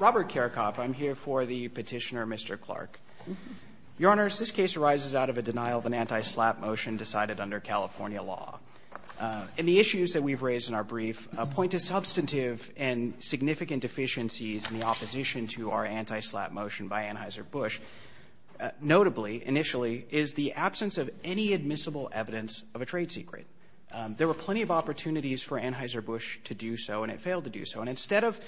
Robert Karakop. I'm here for the petitioner, Mr. Clark. Your Honors, this case arises out of a denial of an anti-SLAPP motion decided under California law. And the issues that we've raised in our brief point to substantive and significant deficiencies in the opposition to our anti-SLAPP motion by Anheuser-Busch. Notably, initially, is the absence of any admissible evidence of a trade secret. There were plenty of opportunities for Anheuser-Busch to do so, and it failed to do so. And instead of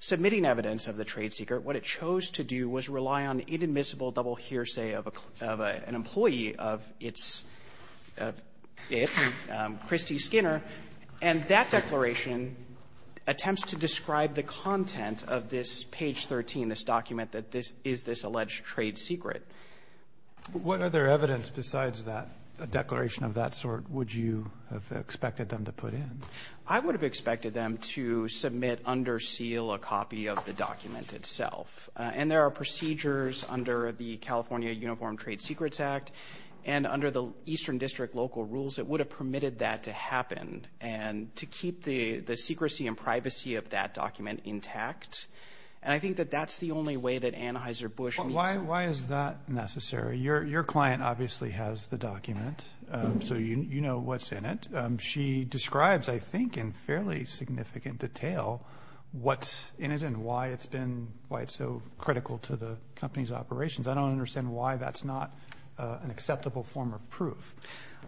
submitting evidence of the trade secret, what it chose to do was rely on inadmissible double hearsay of an employee of its, Kristi Skinner. And that declaration attempts to describe the content of this page 13, this document that this is this alleged trade secret. What other evidence besides that, a declaration of that sort, would you have expected them to put in? I would have expected them to submit under seal a copy of the document itself. And there are procedures under the California Uniform Trade Secrets Act. And under the Eastern District local rules, it would have permitted that to happen and to keep the secrecy and privacy of that document intact. And I think that that's the only way that Anheuser-Busch needs it. Why is that necessary? Your client obviously has the document, so you know what's in it. She describes, I think, in fairly significant detail what's in it and why it's been so critical to the company's operations. I don't understand why that's not an acceptable form of proof.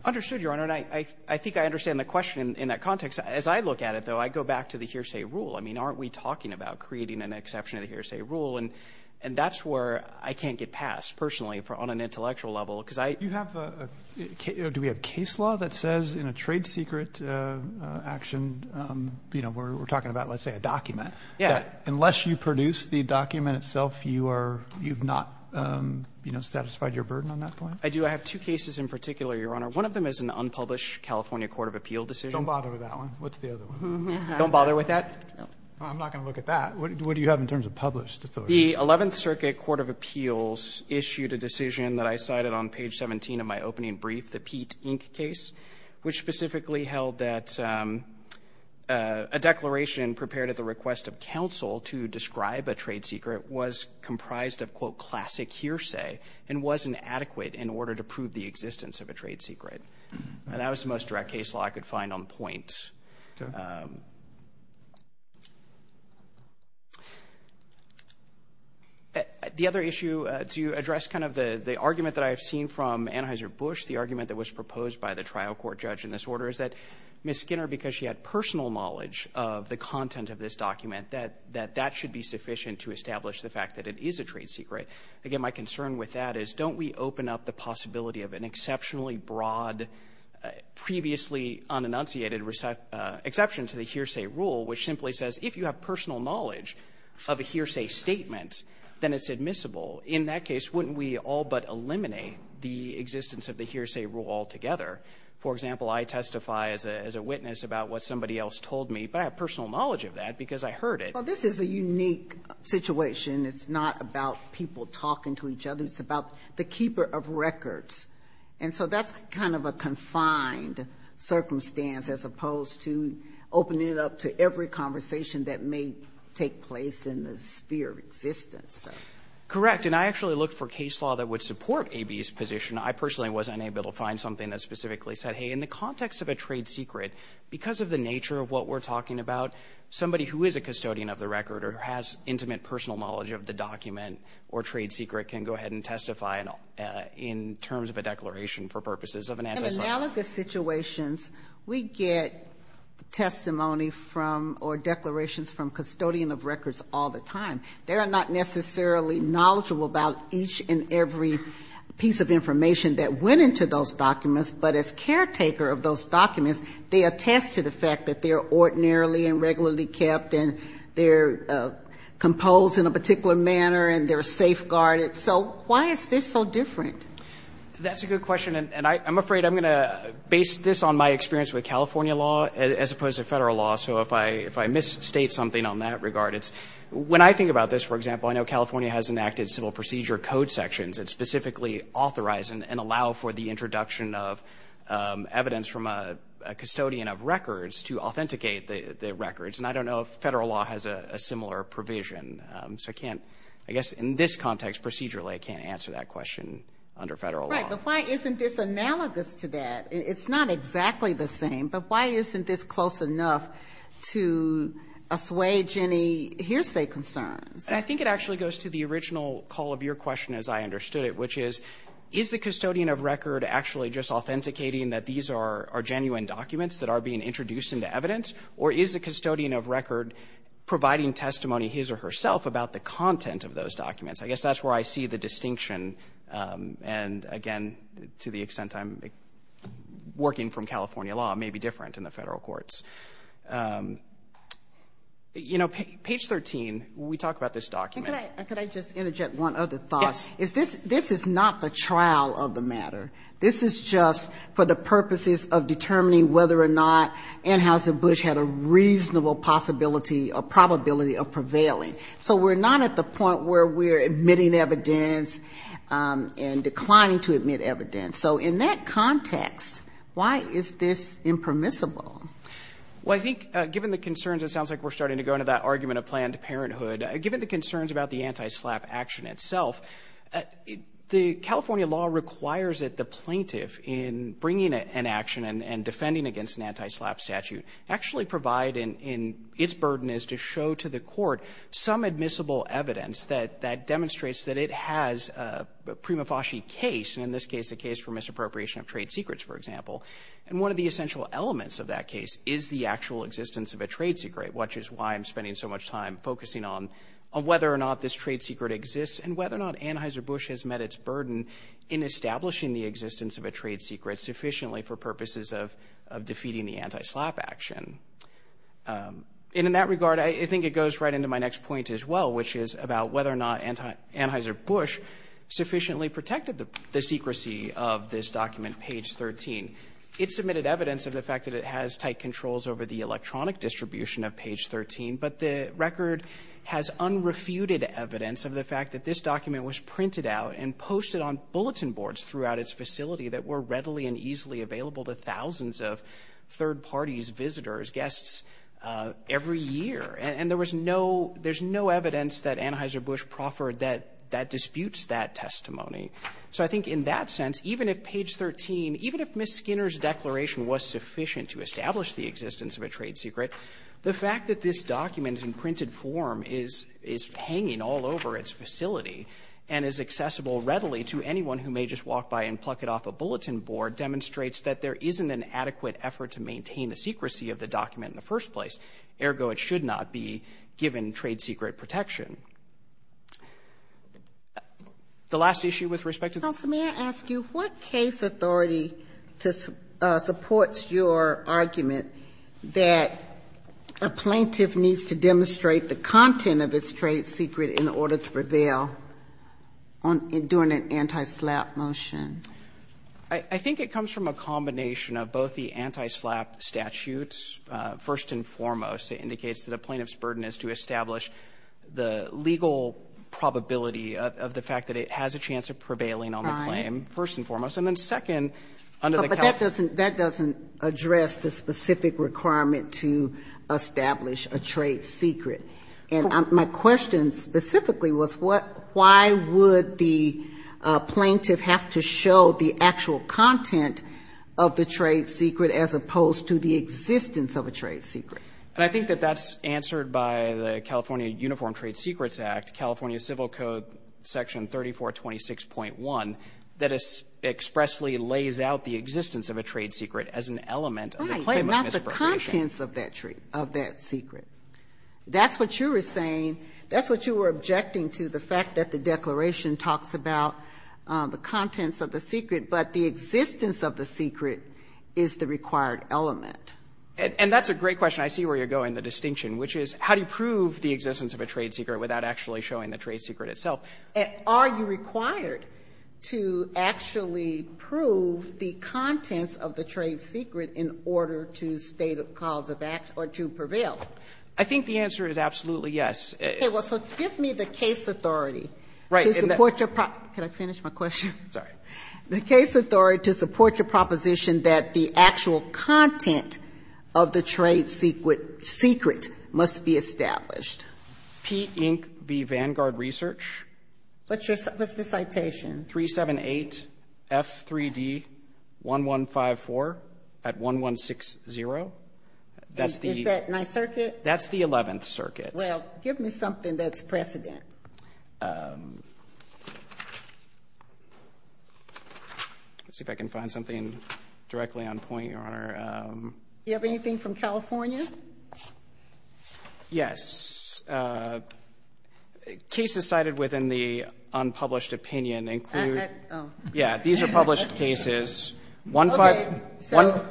Understood, Your Honor. And I think I understand the question in that context. As I look at it, though, I go back to the hearsay rule. I mean, aren't we talking about creating an exception to the hearsay rule? And that's where I can't get past, personally, on an intellectual level. Do we have case law that says in a trade secret action, you know, we're talking about, let's say, a document, that unless you produce the document itself, you've not satisfied your burden on that point? I do. I have two cases in particular, Your Honor. One of them is an unpublished California court of appeal decision. Don't bother with that one. What's the other one? Don't bother with that? No. I'm not going to look at that. What do you have in terms of published? The 11th Circuit Court of Appeals issued a decision that I cited on page 17 of my opening brief, the Pete, Inc. case, which specifically held that a declaration prepared at the request of counsel to describe a trade secret was comprised of, quote, classic hearsay and wasn't adequate in order to prove the existence of a trade secret. And that was the most direct case law I could find on point. The other issue, to address kind of the argument that I have seen from Anheuser-Busch, the argument that was proposed by the trial court judge in this order, is that Ms. Skinner, because she had personal knowledge of the content of this document, that that should be sufficient to establish the fact that it is a trade secret. Again, my concern with that is, don't we open up the possibility of an exceptionally broad, previously unenunciated exception to the hearsay rule, which simply says if you have personal knowledge of a hearsay statement, then it's admissible? In that case, wouldn't we all but eliminate the existence of the hearsay rule altogether? For example, I testify as a witness about what somebody else told me, but I have personal knowledge of that because I heard it. Well, this is a unique situation. It's not about people talking to each other. It's about the keeper of records. And so that's kind of a confined circumstance as opposed to opening it up to every conversation that may take place in the sphere of existence. Correct. And I actually looked for case law that would support A.B.'s position. I personally wasn't able to find something that specifically said, hey, in the context of a trade secret, because of the nature of what we're talking about, somebody who is a custodian of the record or has intimate personal knowledge of the document or trade secret can go ahead and testify in terms of a declaration for purposes of an antecedent. In analogous situations, we get testimony from or declarations from custodian of records all the time. They are not necessarily knowledgeable about each and every piece of information that went into those documents, but as caretaker of those documents, they attest to the fact that they are ordinarily and regularly kept and they're composed in a particular manner and they're safeguarded. So why is this so different? That's a good question. And I'm afraid I'm going to base this on my experience with California law as opposed to Federal law. So if I misstate something on that regard, it's when I think about this, for example, I know California has enacted civil procedure code sections that specifically authorize and allow for the introduction of evidence from a custodian of records to authenticate the records. And I don't know if Federal law has a similar provision. So I can't, I guess in this context procedurally, I can't answer that question under Federal law. Right. But why isn't this analogous to that? It's not exactly the same. But why isn't this close enough to assuage any hearsay concerns? I think it actually goes to the original call of your question as I understood it, which is, is the custodian of record actually just authenticating that these are genuine documents that are being introduced into evidence? Or is the custodian of record providing testimony, his or herself, about the content of those documents? I guess that's where I see the distinction. And, again, to the extent I'm working from California law, it may be different in the Federal courts. You know, page 13, we talk about this document. Could I just interject one other thought? Yes. This is not the trial of the matter. This is just for the purposes of determining whether or not Anheuser-Busch had a reasonable possibility or probability of prevailing. So we're not at the point where we're admitting evidence and declining to admit evidence. So in that context, why is this impermissible? Well, I think given the concerns, it sounds like we're starting to go into that argument of planned parenthood. Given the concerns about the anti-SLAPP action itself, the California law requires that the plaintiff, in bringing an action and defending against an anti-SLAPP statute, actually provide in its burden is to show to the court some admissible evidence that demonstrates that it has a prima facie case, and in this case a case for misappropriation of trade secrets, for example. And one of the essential elements of that case is the actual existence of a trade secret, which is why I'm spending so much time focusing on whether or not this trade sufficient for purposes of defeating the anti-SLAPP action. And in that regard, I think it goes right into my next point as well, which is about whether or not Anheuser-Busch sufficiently protected the secrecy of this document, page 13. It submitted evidence of the fact that it has tight controls over the electronic distribution of page 13, but the record has unrefuted evidence of the fact that this document is posted on bulletin boards throughout its facility that were readily and easily available to thousands of third parties, visitors, guests every year. And there was no — there's no evidence that Anheuser-Busch proffered that disputes that testimony. So I think in that sense, even if page 13, even if Ms. Skinner's declaration was sufficient to establish the existence of a trade secret, the fact that this document in printed form is — is hanging all over its facility and is accessible readily to anyone who may just walk by and pluck it off a bulletin board demonstrates that there isn't an adequate effort to maintain the secrecy of the document in the first place. Ergo, it should not be given trade secret protection. The last issue with respect to the — I think it comes from a combination of both the anti-SLAPP statutes. First and foremost, it indicates that a plaintiff's burden is to establish the legal probability of the fact that it has a chance of prevailing on the claim. First and foremost. And then second, under the California — But that doesn't — that doesn't address the specific requirement to establish a trade secret. And my question specifically was what — why would the plaintiff have to show the actual content of the trade secret as opposed to the existence of a trade secret? And I think that that's answered by the California Uniform Trade Secrets Act, California Civil Code Section 3426.1, that expressly lays out the existence of a trade secret as an element of the claim of misappropriation. The contents of that trade — of that secret. That's what you were saying. That's what you were objecting to, the fact that the declaration talks about the contents of the secret, but the existence of the secret is the required element. And that's a great question. I see where you're going, the distinction, which is how do you prove the existence of a trade secret without actually showing the trade secret itself? Are you required to actually prove the contents of the trade secret in order to state a cause of act or to prevail? I think the answer is absolutely yes. Okay. Well, so give me the case authority. Right. To support your — can I finish my question? Sorry. The case authority to support your proposition that the actual content of the trade secret must be established. P. Inc. v. Vanguard Research. What's your — what's the citation? 378-F3D-1154 at 1160. That's the — Is that my circuit? That's the Eleventh Circuit. Well, give me something that's precedent. Let's see if I can find something directly on point, Your Honor. Do you have anything from California? Yes. Cases cited within the unpublished opinion include — Oh. Yeah. These are published cases. Okay. So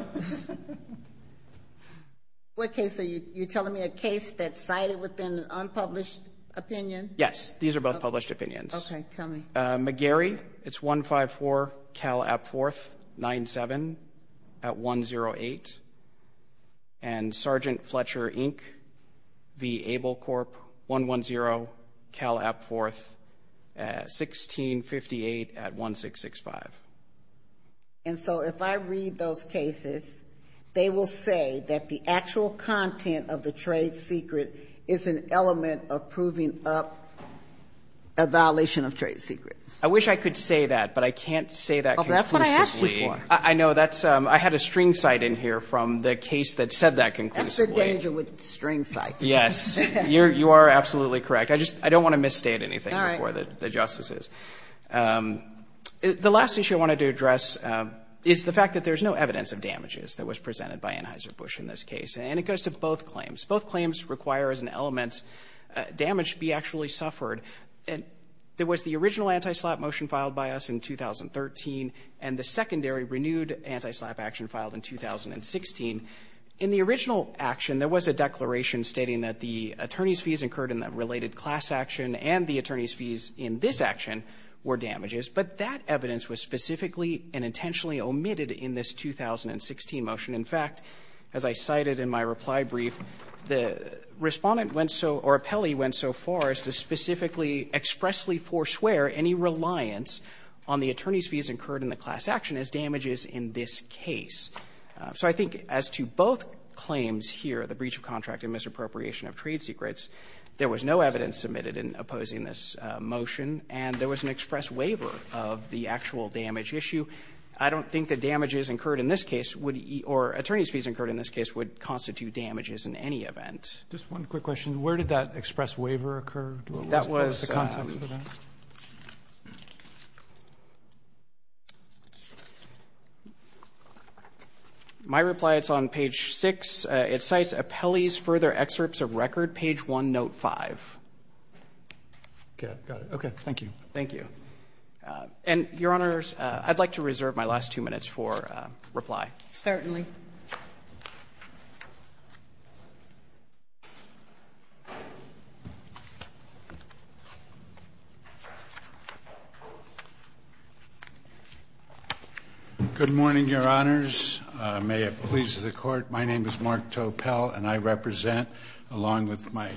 what case are you telling me? A case that's cited within an unpublished opinion? Yes. These are both published opinions. Okay. Tell me. McGarry. McGarry. It's 154-Cal-Ap-4th-97 at 108. And Sgt. Fletcher, Inc. v. Able Corp. 110-Cal-Ap-4th-1658 at 1665. And so if I read those cases, they will say that the actual content of the trade secret is an element of proving up a violation of trade secrets. I wish I could say that, but I can't say that conclusively. Well, that's what I asked you for. I know. I had a string cite in here from the case that said that conclusively. That's the danger with string cites. Yes. You are absolutely correct. I don't want to misstate anything before the justices. All right. The last issue I wanted to address is the fact that there's no evidence of damages that was presented by Anheuser-Busch in this case. And it goes to both claims. Both claims require as an element damage to be actually suffered. And there was the original anti-SLAPP motion filed by us in 2013, and the secondary renewed anti-SLAPP action filed in 2016. In the original action, there was a declaration stating that the attorney's fees incurred in the related class action and the attorney's fees in this action were damages. But that evidence was specifically and intentionally omitted in this 2016 motion. In fact, as I cited in my reply brief, the Respondent went so or Appelli went so far as to specifically expressly forswear any reliance on the attorney's fees incurred in the class action as damages in this case. So I think as to both claims here, the breach of contract and misappropriation of trade secrets, there was no evidence submitted in opposing this motion. And there was an express waiver of the actual damage issue. I don't think the damages incurred in this case would or attorney's fees incurred in this case would constitute damages in any event. Roberts, just one quick question. Where did that express waiver occur? What was the context for that? My reply, it's on page 6. It cites Appelli's further excerpts of record, page 1, note 5. Okay. Got it. Okay. Thank you. Thank you. And, Your Honors, I'd like to reserve my last two minutes for reply. Certainly. Mr. Appelli. Good morning, Your Honors. May it please the Court. My name is Mark Topel, and I represent, along with my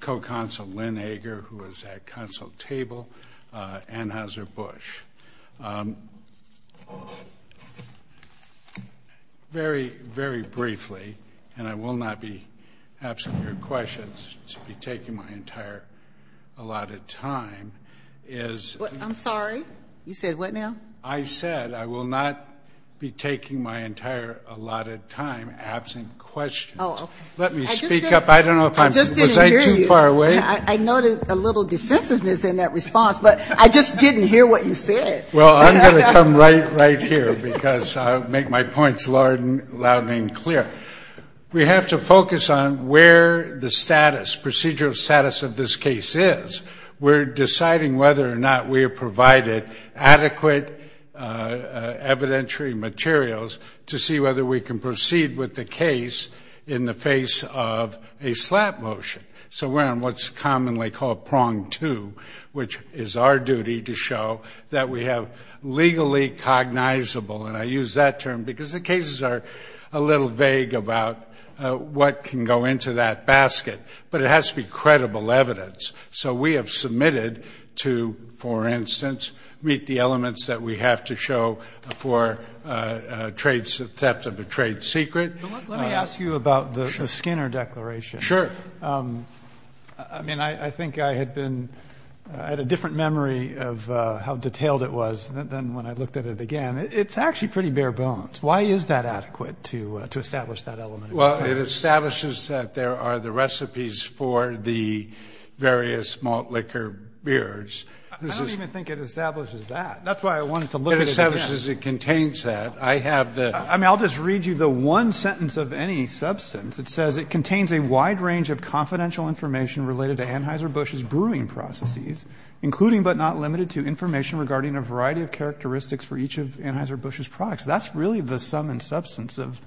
co-counsel Lynn Ager, who is at counsel table, Anheuser-Busch. Very, very briefly, and I will not be absent your questions, to be taking my entire allotted time, is. I'm sorry? You said what now? I said I will not be taking my entire allotted time absent questions. Oh, okay. Let me speak up. I don't know if I'm too far away. I just didn't hear you. Well, I'm going to come right here, because I'll make my points loud and clear. We have to focus on where the status, procedural status of this case is. We're deciding whether or not we have provided adequate evidentiary materials to see whether we can proceed with the case in the face of a slap motion. So we're on what's commonly called prong two, which is our duty to show that we have legally cognizable, and I use that term because the cases are a little vague about what can go into that basket, but it has to be credible evidence. So we have submitted to, for instance, meet the elements that we have to show for theft of a trade secret. Let me ask you about the Skinner Declaration. Sure. I mean, I think I had been at a different memory of how detailed it was than when I looked at it again. It's actually pretty bare bones. Why is that adequate to establish that element? Well, it establishes that there are the recipes for the various malt liquor beers. I don't even think it establishes that. That's why I wanted to look at it again. It establishes it contains that. I have the ‑‑ I mean, I'll just read you the one sentence of any substance. It says, It contains a wide range of confidential information related to Anheuser-Busch's brewing processes, including but not limited to information regarding a variety of characteristics for each of Anheuser-Busch's products. That's really the sum and substance of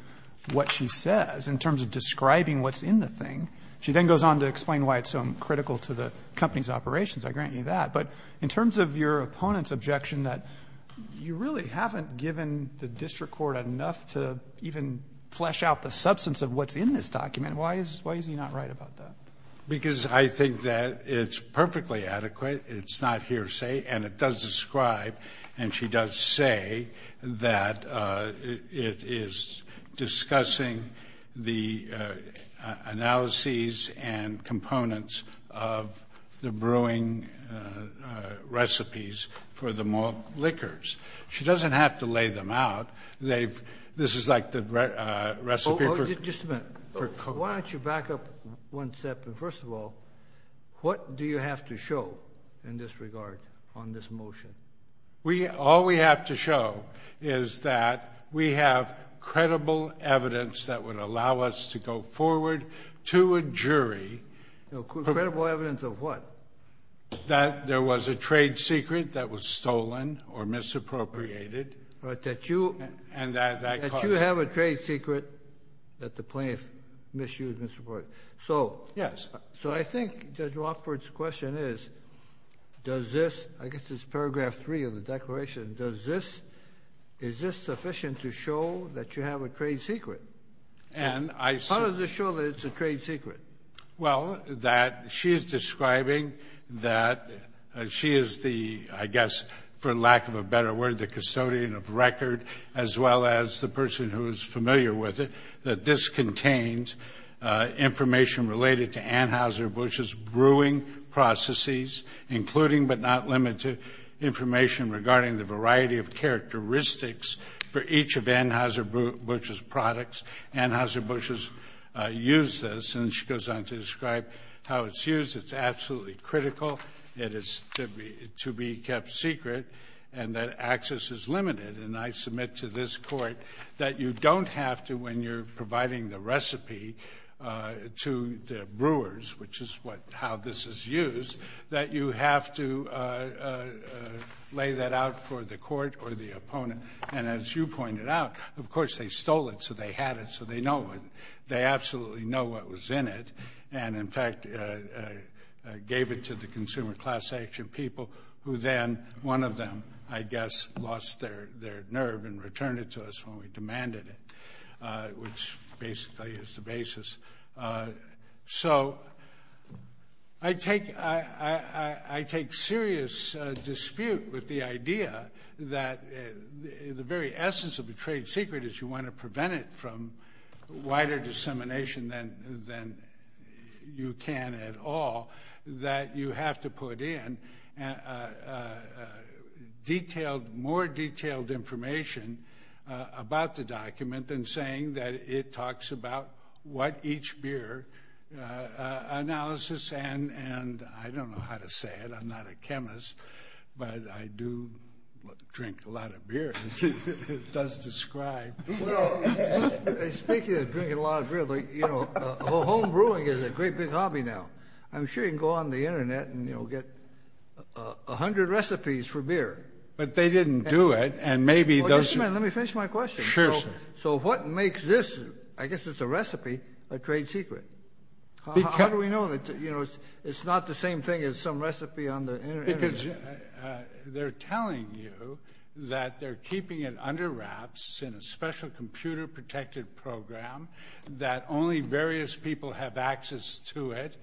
what she says in terms of describing what's in the thing. She then goes on to explain why it's so critical to the company's operations. I grant you that. But in terms of your opponent's objection that you really haven't given the district court enough to even flesh out the substance of what's in this document, why is he not right about that? Because I think that it's perfectly adequate. It's not hearsay. And it does describe, and she does say, that it is discussing the analyses and components of the brewing recipes for the malt liquors. She doesn't have to lay them out. This is like the recipe for. Just a minute. Why don't you back up one step? First of all, what do you have to show in this regard on this motion? All we have to show is that we have credible evidence that would allow us to go forward to a jury. Credible evidence of what? That there was a trade secret that was stolen or misappropriated. That you have a trade secret that the plaintiff misused. So I think Judge Rockford's question is, does this, I guess it's paragraph three of the declaration, is this sufficient to show that you have a trade secret? How does this show that it's a trade secret? Well, that she is describing that she is the, I guess, for lack of a better word, the custodian of record, as well as the person who is familiar with it, that this contains information related to Anheuser-Busch's brewing processes, including but not limited to information regarding the variety of characteristics for each of Anheuser-Busch's products. Anheuser-Busch has used this, and she goes on to describe how it's used. It's absolutely critical. It is to be kept secret, and that access is limited. And I submit to this Court that you don't have to, when you're providing the recipe to the brewers, which is what, how this is used, that you have to lay that out for the Court or the opponent. And as you pointed out, of course, they stole it, so they had it, so they know it. They absolutely know what was in it and, in fact, gave it to the consumer class action people who then, one of them, I guess, lost their nerve and returned it to us when we demanded it, which basically is the basis. So I take serious dispute with the idea that the very essence of the trade secret is you want to prevent it from wider dissemination than you can at all, that you have to put in detailed, more detailed information about the document than saying that it talks about what each beer analysis and, I don't know how to say it, I'm not a chemist, but I do drink a lot of beer. It does describe. Well, speaking of drinking a lot of beer, you know, home brewing is a great big hobby now. I'm sure you can go on the Internet and, you know, get a hundred recipes for beer. But they didn't do it, and maybe those... Well, just a minute, let me finish my question. Sure, sir. So what makes this, I guess it's a recipe, a trade secret? How do we know that, you know, it's not the same thing as some recipe on the Internet? Because they're telling you that they're keeping it under wraps in a special computer-protected program that only various people have access to it.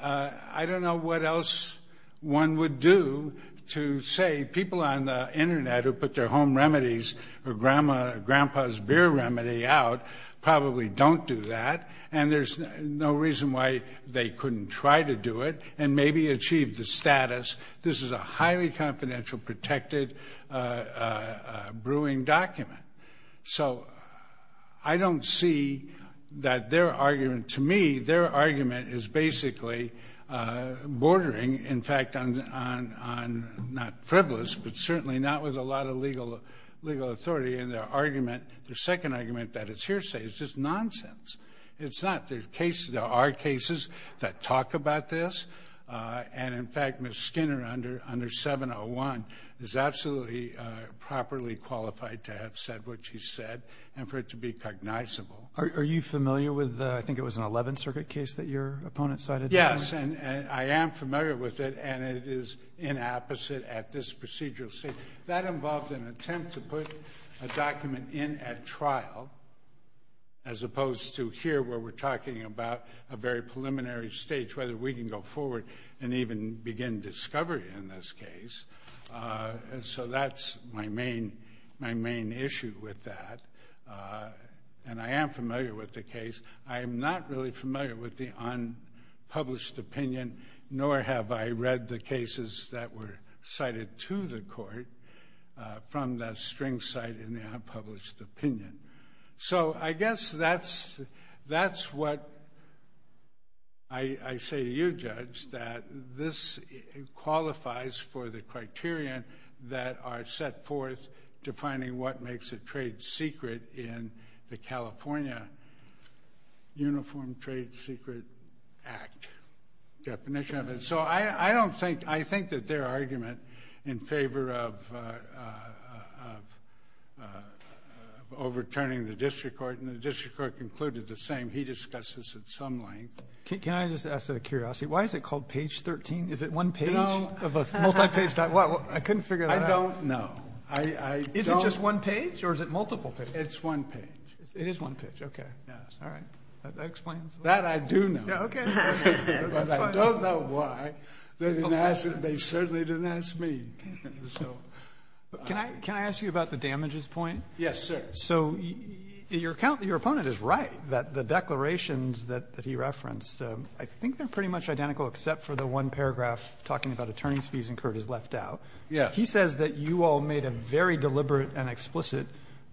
I don't know what else one would do to say people on the Internet who put their home remedies or grandpa's beer remedy out probably don't do that, and there's no reason why they couldn't try to do it and maybe achieve the status. This is a highly confidential, protected brewing document. So I don't see that their argument to me, their argument is basically bordering, in fact, on not frivolous but certainly not with a lot of legal authority in their argument. Their second argument that it's hearsay is just nonsense. It's not. There are cases that talk about this, and, in fact, Ms. Skinner under 701 is absolutely properly qualified to have said what she said and for it to be cognizable. Are you familiar with, I think it was an 11th Circuit case that your opponent cited? Yes, and I am familiar with it, and it is inapposite at this procedural stage. That involved an attempt to put a document in at trial as opposed to here where we're talking about a very preliminary stage, whether we can go forward and even begin discovery in this case. So that's my main issue with that, and I am familiar with the case. I am not really familiar with the unpublished opinion, nor have I read the cases that were cited to the court from that string cite in the unpublished opinion. So I guess that's what I say to you, Judge, that this qualifies for the criterion that are set forth defining what makes a trade secret in the California Uniform Trade Secret Act definition. So I think that their argument in favor of overturning the district court, and the district court concluded the same. He discussed this at some length. Can I just ask out of curiosity, why is it called page 13? Is it one page of a multi-page document? I couldn't figure that out. I don't know. Is it just one page, or is it multiple pages? It's one page. It is one page. Okay. All right. That explains it. That I do know. Okay. That's fine. But I don't know why. They certainly didn't ask me. Can I ask you about the damages point? Yes, sir. So your opponent is right that the declarations that he referenced, I think they're pretty much identical except for the one paragraph talking about attorney's fees incurred as left out. Yes. He says that you all made a very deliberate and explicit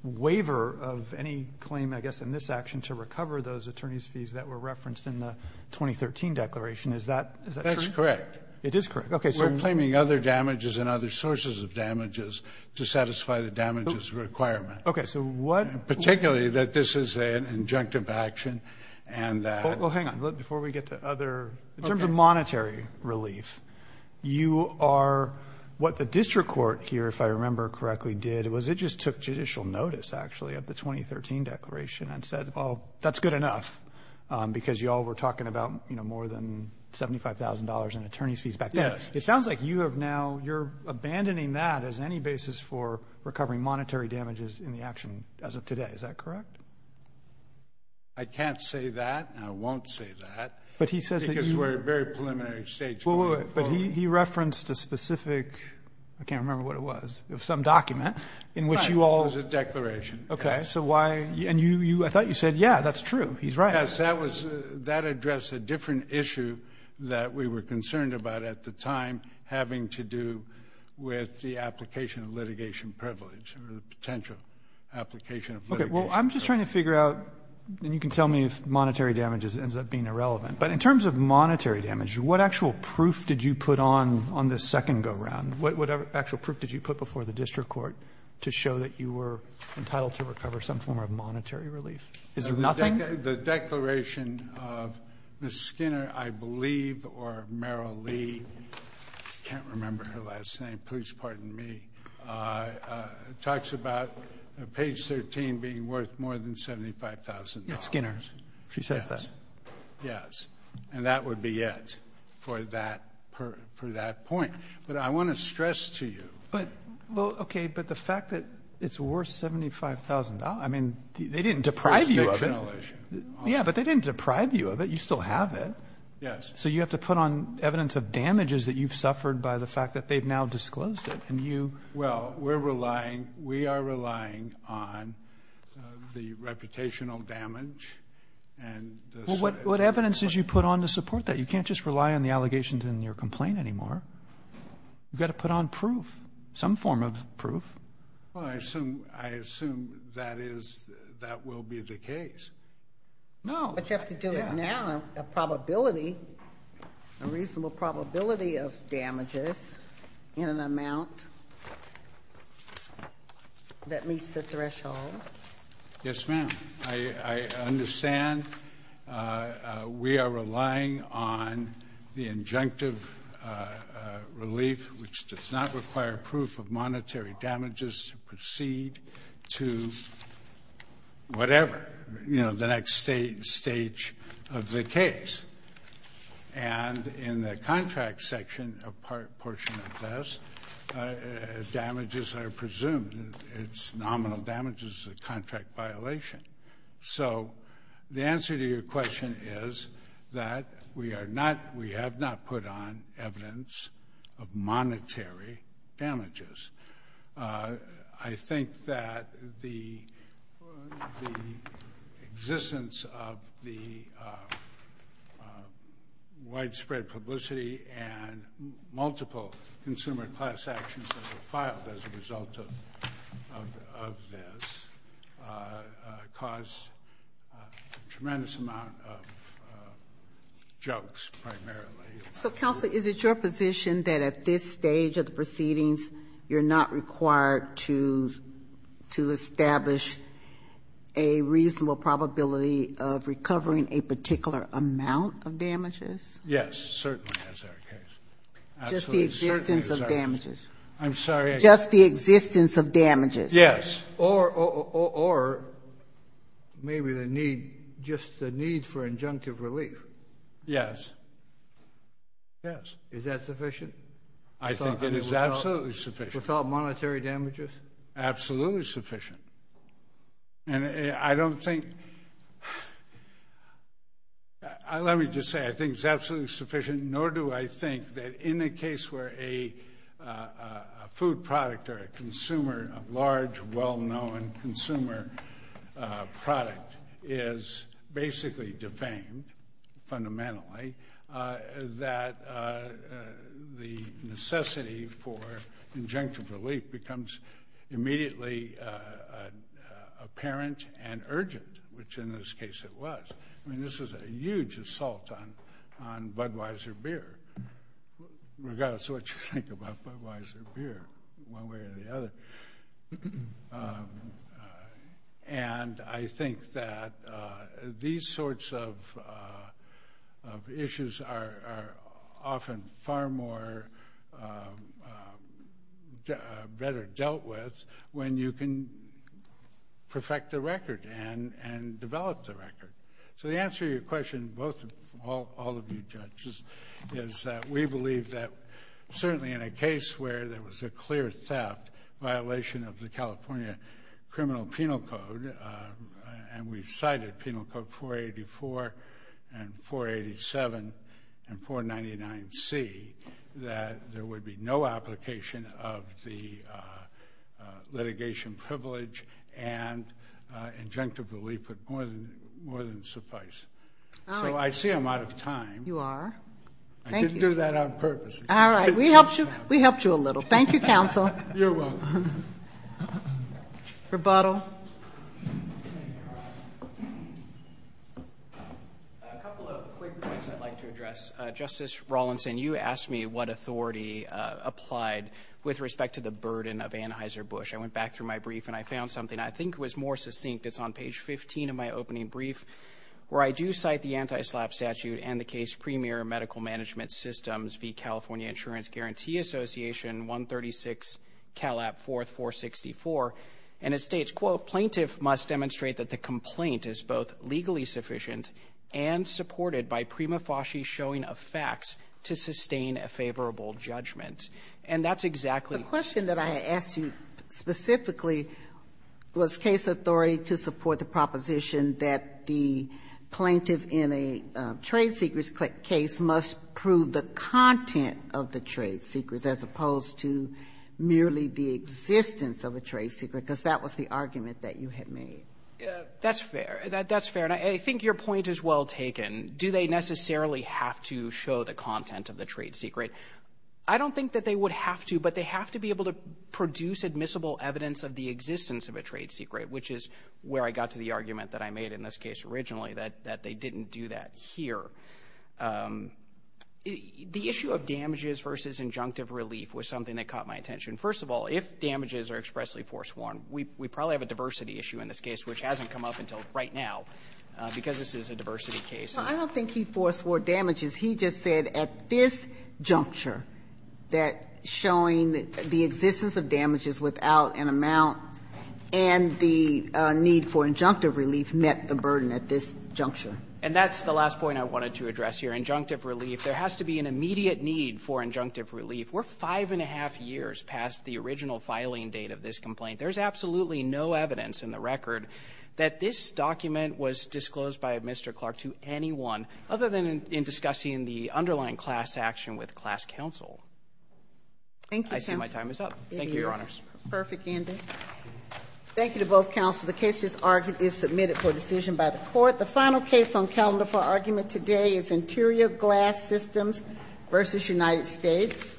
waiver of any claim, I guess, in this action to recover those attorney's fees that were referenced in the 2013 declaration. Is that true? That's correct. It is correct. Okay. We're claiming other damages and other sources of damages to satisfy the damages requirement. Okay. So what we're saying is that this is an injunctive action. Well, hang on. Before we get to other... Okay. In terms of monetary relief, you are... What the district court here, if I remember correctly, did was it just took judicial notice, actually, of the 2013 declaration and said, oh, that's good enough because you all were talking about, you know, more than $75,000 in attorney's fees back then. Yes. It sounds like you have now... you're abandoning that as any basis for recovering monetary damages in the action as of today. Is that correct? I can't say that. I won't say that. But he says that you... Because we're at a very preliminary stage going forward. But he referenced a specific, I can't remember what it was, some document in which you all... Right. It was a declaration. Okay. So why... And I thought you said, yeah, that's true. He's right. Yes. That addressed a different issue that we were concerned about at the time having to do with the application of litigation privilege or the potential application of litigation privilege. Okay. Well, I'm just trying to figure out, and you can tell me if monetary damage ends up being irrelevant. But in terms of monetary damage, what actual proof did you put on on this second go-round? What actual proof did you put before the district court to show that you were entitled to recover some form of monetary relief? Is there nothing? The declaration of Ms. Skinner, I believe, or Meryl Lee, I can't remember her last name. Please pardon me. It talks about page 13 being worth more than $75,000. It's Skinner's. She says that. Yes. Yes. And that would be it for that point. But I want to stress to you... Well, okay, but the fact that it's worth $75,000, I mean, they didn't deprive you of it. Yeah, but they didn't deprive you of it. You still have it. Yes. So you have to put on evidence of damages that you've suffered by the fact that they've now disclosed it. And you... Well, we're relying, we are relying on the reputational damage and... Well, what evidence did you put on to support that? You can't just rely on the allegations in your complaint anymore. You've got to put on proof, some form of proof. Well, I assume that is, that will be the case. No. But you have to do it now, a probability, a reasonable probability of damages in an amount that meets the threshold. Yes, ma'am. I understand. We are relying on the injunctive relief, which does not require proof of monetary damages to proceed to whatever, you know, the next stage of the case. And in the contract section, a portion of this, damages are presumed. It's nominal damages, a contract violation. So the answer to your question is that we are not, we have not put on evidence of monetary damages. I think that the existence of the widespread publicity and multiple consumer class actions that were filed as a result of this caused a tremendous amount of jokes, primarily. So counsel, is it your position that at this stage of the proceedings, you're not required to, to establish a reasonable probability of recovering a particular amount of damages? Yes, certainly as our case. Just the existence of damages. I'm sorry. Just the existence of damages. Yes. Or, or maybe the need, just the need for injunctive relief. Yes. Yes. Is that sufficient? I think it is absolutely sufficient. Without monetary damages? Absolutely sufficient. And I don't think, let me just say, I think it's absolutely sufficient, nor do I think that in a case where a food product or a consumer, a large, well-known consumer product is basically defamed, fundamentally, that the necessity for injunctive relief becomes immediately apparent and urgent, which in this case it was. I mean, this was a huge assault on Budweiser beer, regardless of what you think about Budweiser beer, one way or the other. And I think that these sorts of issues are often far more, better dealt with when you can perfect the record and develop the record. So the answer to your question, both, all of you judges, is that we believe that certainly in a case where there was a clear theft, violation of the California Criminal Penal Code, and we've cited Penal Code 484 and 487 and 499C, that there would be no application of the litigation privilege and injunctive relief would more than suffice. All right. So I see I'm out of time. You are. Thank you. I didn't do that on purpose. All right. We helped you. We helped you a little. Thank you, counsel. You're welcome. Rebuttal. A couple of quick points I'd like to address. Justice Rawlinson, you asked me what authority applied with respect to the burden of Anheuser-Busch. I went back through my brief and I found something I think was more succinct. It's on page 15 of my opening brief, where I do cite the anti-SLAPP statute and the state's premier medical management systems, the California Insurance Guarantee Association, 136 CALAP 4464. And it states, quote, Plaintiff must demonstrate that the complaint is both legally sufficient and supported by prima facie showing of facts to sustain a favorable judgment. And that's exactly The question that I asked you specifically was case authority to support the proposition that the plaintiff in a trade secrets case must prove the content of the trade secrets as opposed to merely the existence of a trade secret, because that was the argument that you had made. That's fair. That's fair. And I think your point is well taken. Do they necessarily have to show the content of the trade secret? I don't think that they would have to, but they have to be able to produce admissible evidence of the existence of a trade secret, which is where I got to the argument that I made in this case originally, that they didn't do that here. The issue of damages versus injunctive relief was something that caught my attention. First of all, if damages are expressly force-worn, we probably have a diversity issue in this case, which hasn't come up until right now, because this is a diversity case. I don't think he force-worn damages. He just said at this juncture that showing the existence of damages without an amount and the need for injunctive relief met the burden at this juncture. And that's the last point I wanted to address here, injunctive relief. There has to be an immediate need for injunctive relief. We're five and a half years past the original filing date of this complaint. There's absolutely no evidence in the record that this document was disclosed by Mr. Clark to anyone other than in discussing the underlying class action with class counsel. Thank you, counsel. I see my time is up. Thank you, Your Honors. It is. Perfect, Andy. Thank you to both counsel. The case is submitted for decision by the Court. The final case on calendar for argument today is Interior Glass Systems v. United States.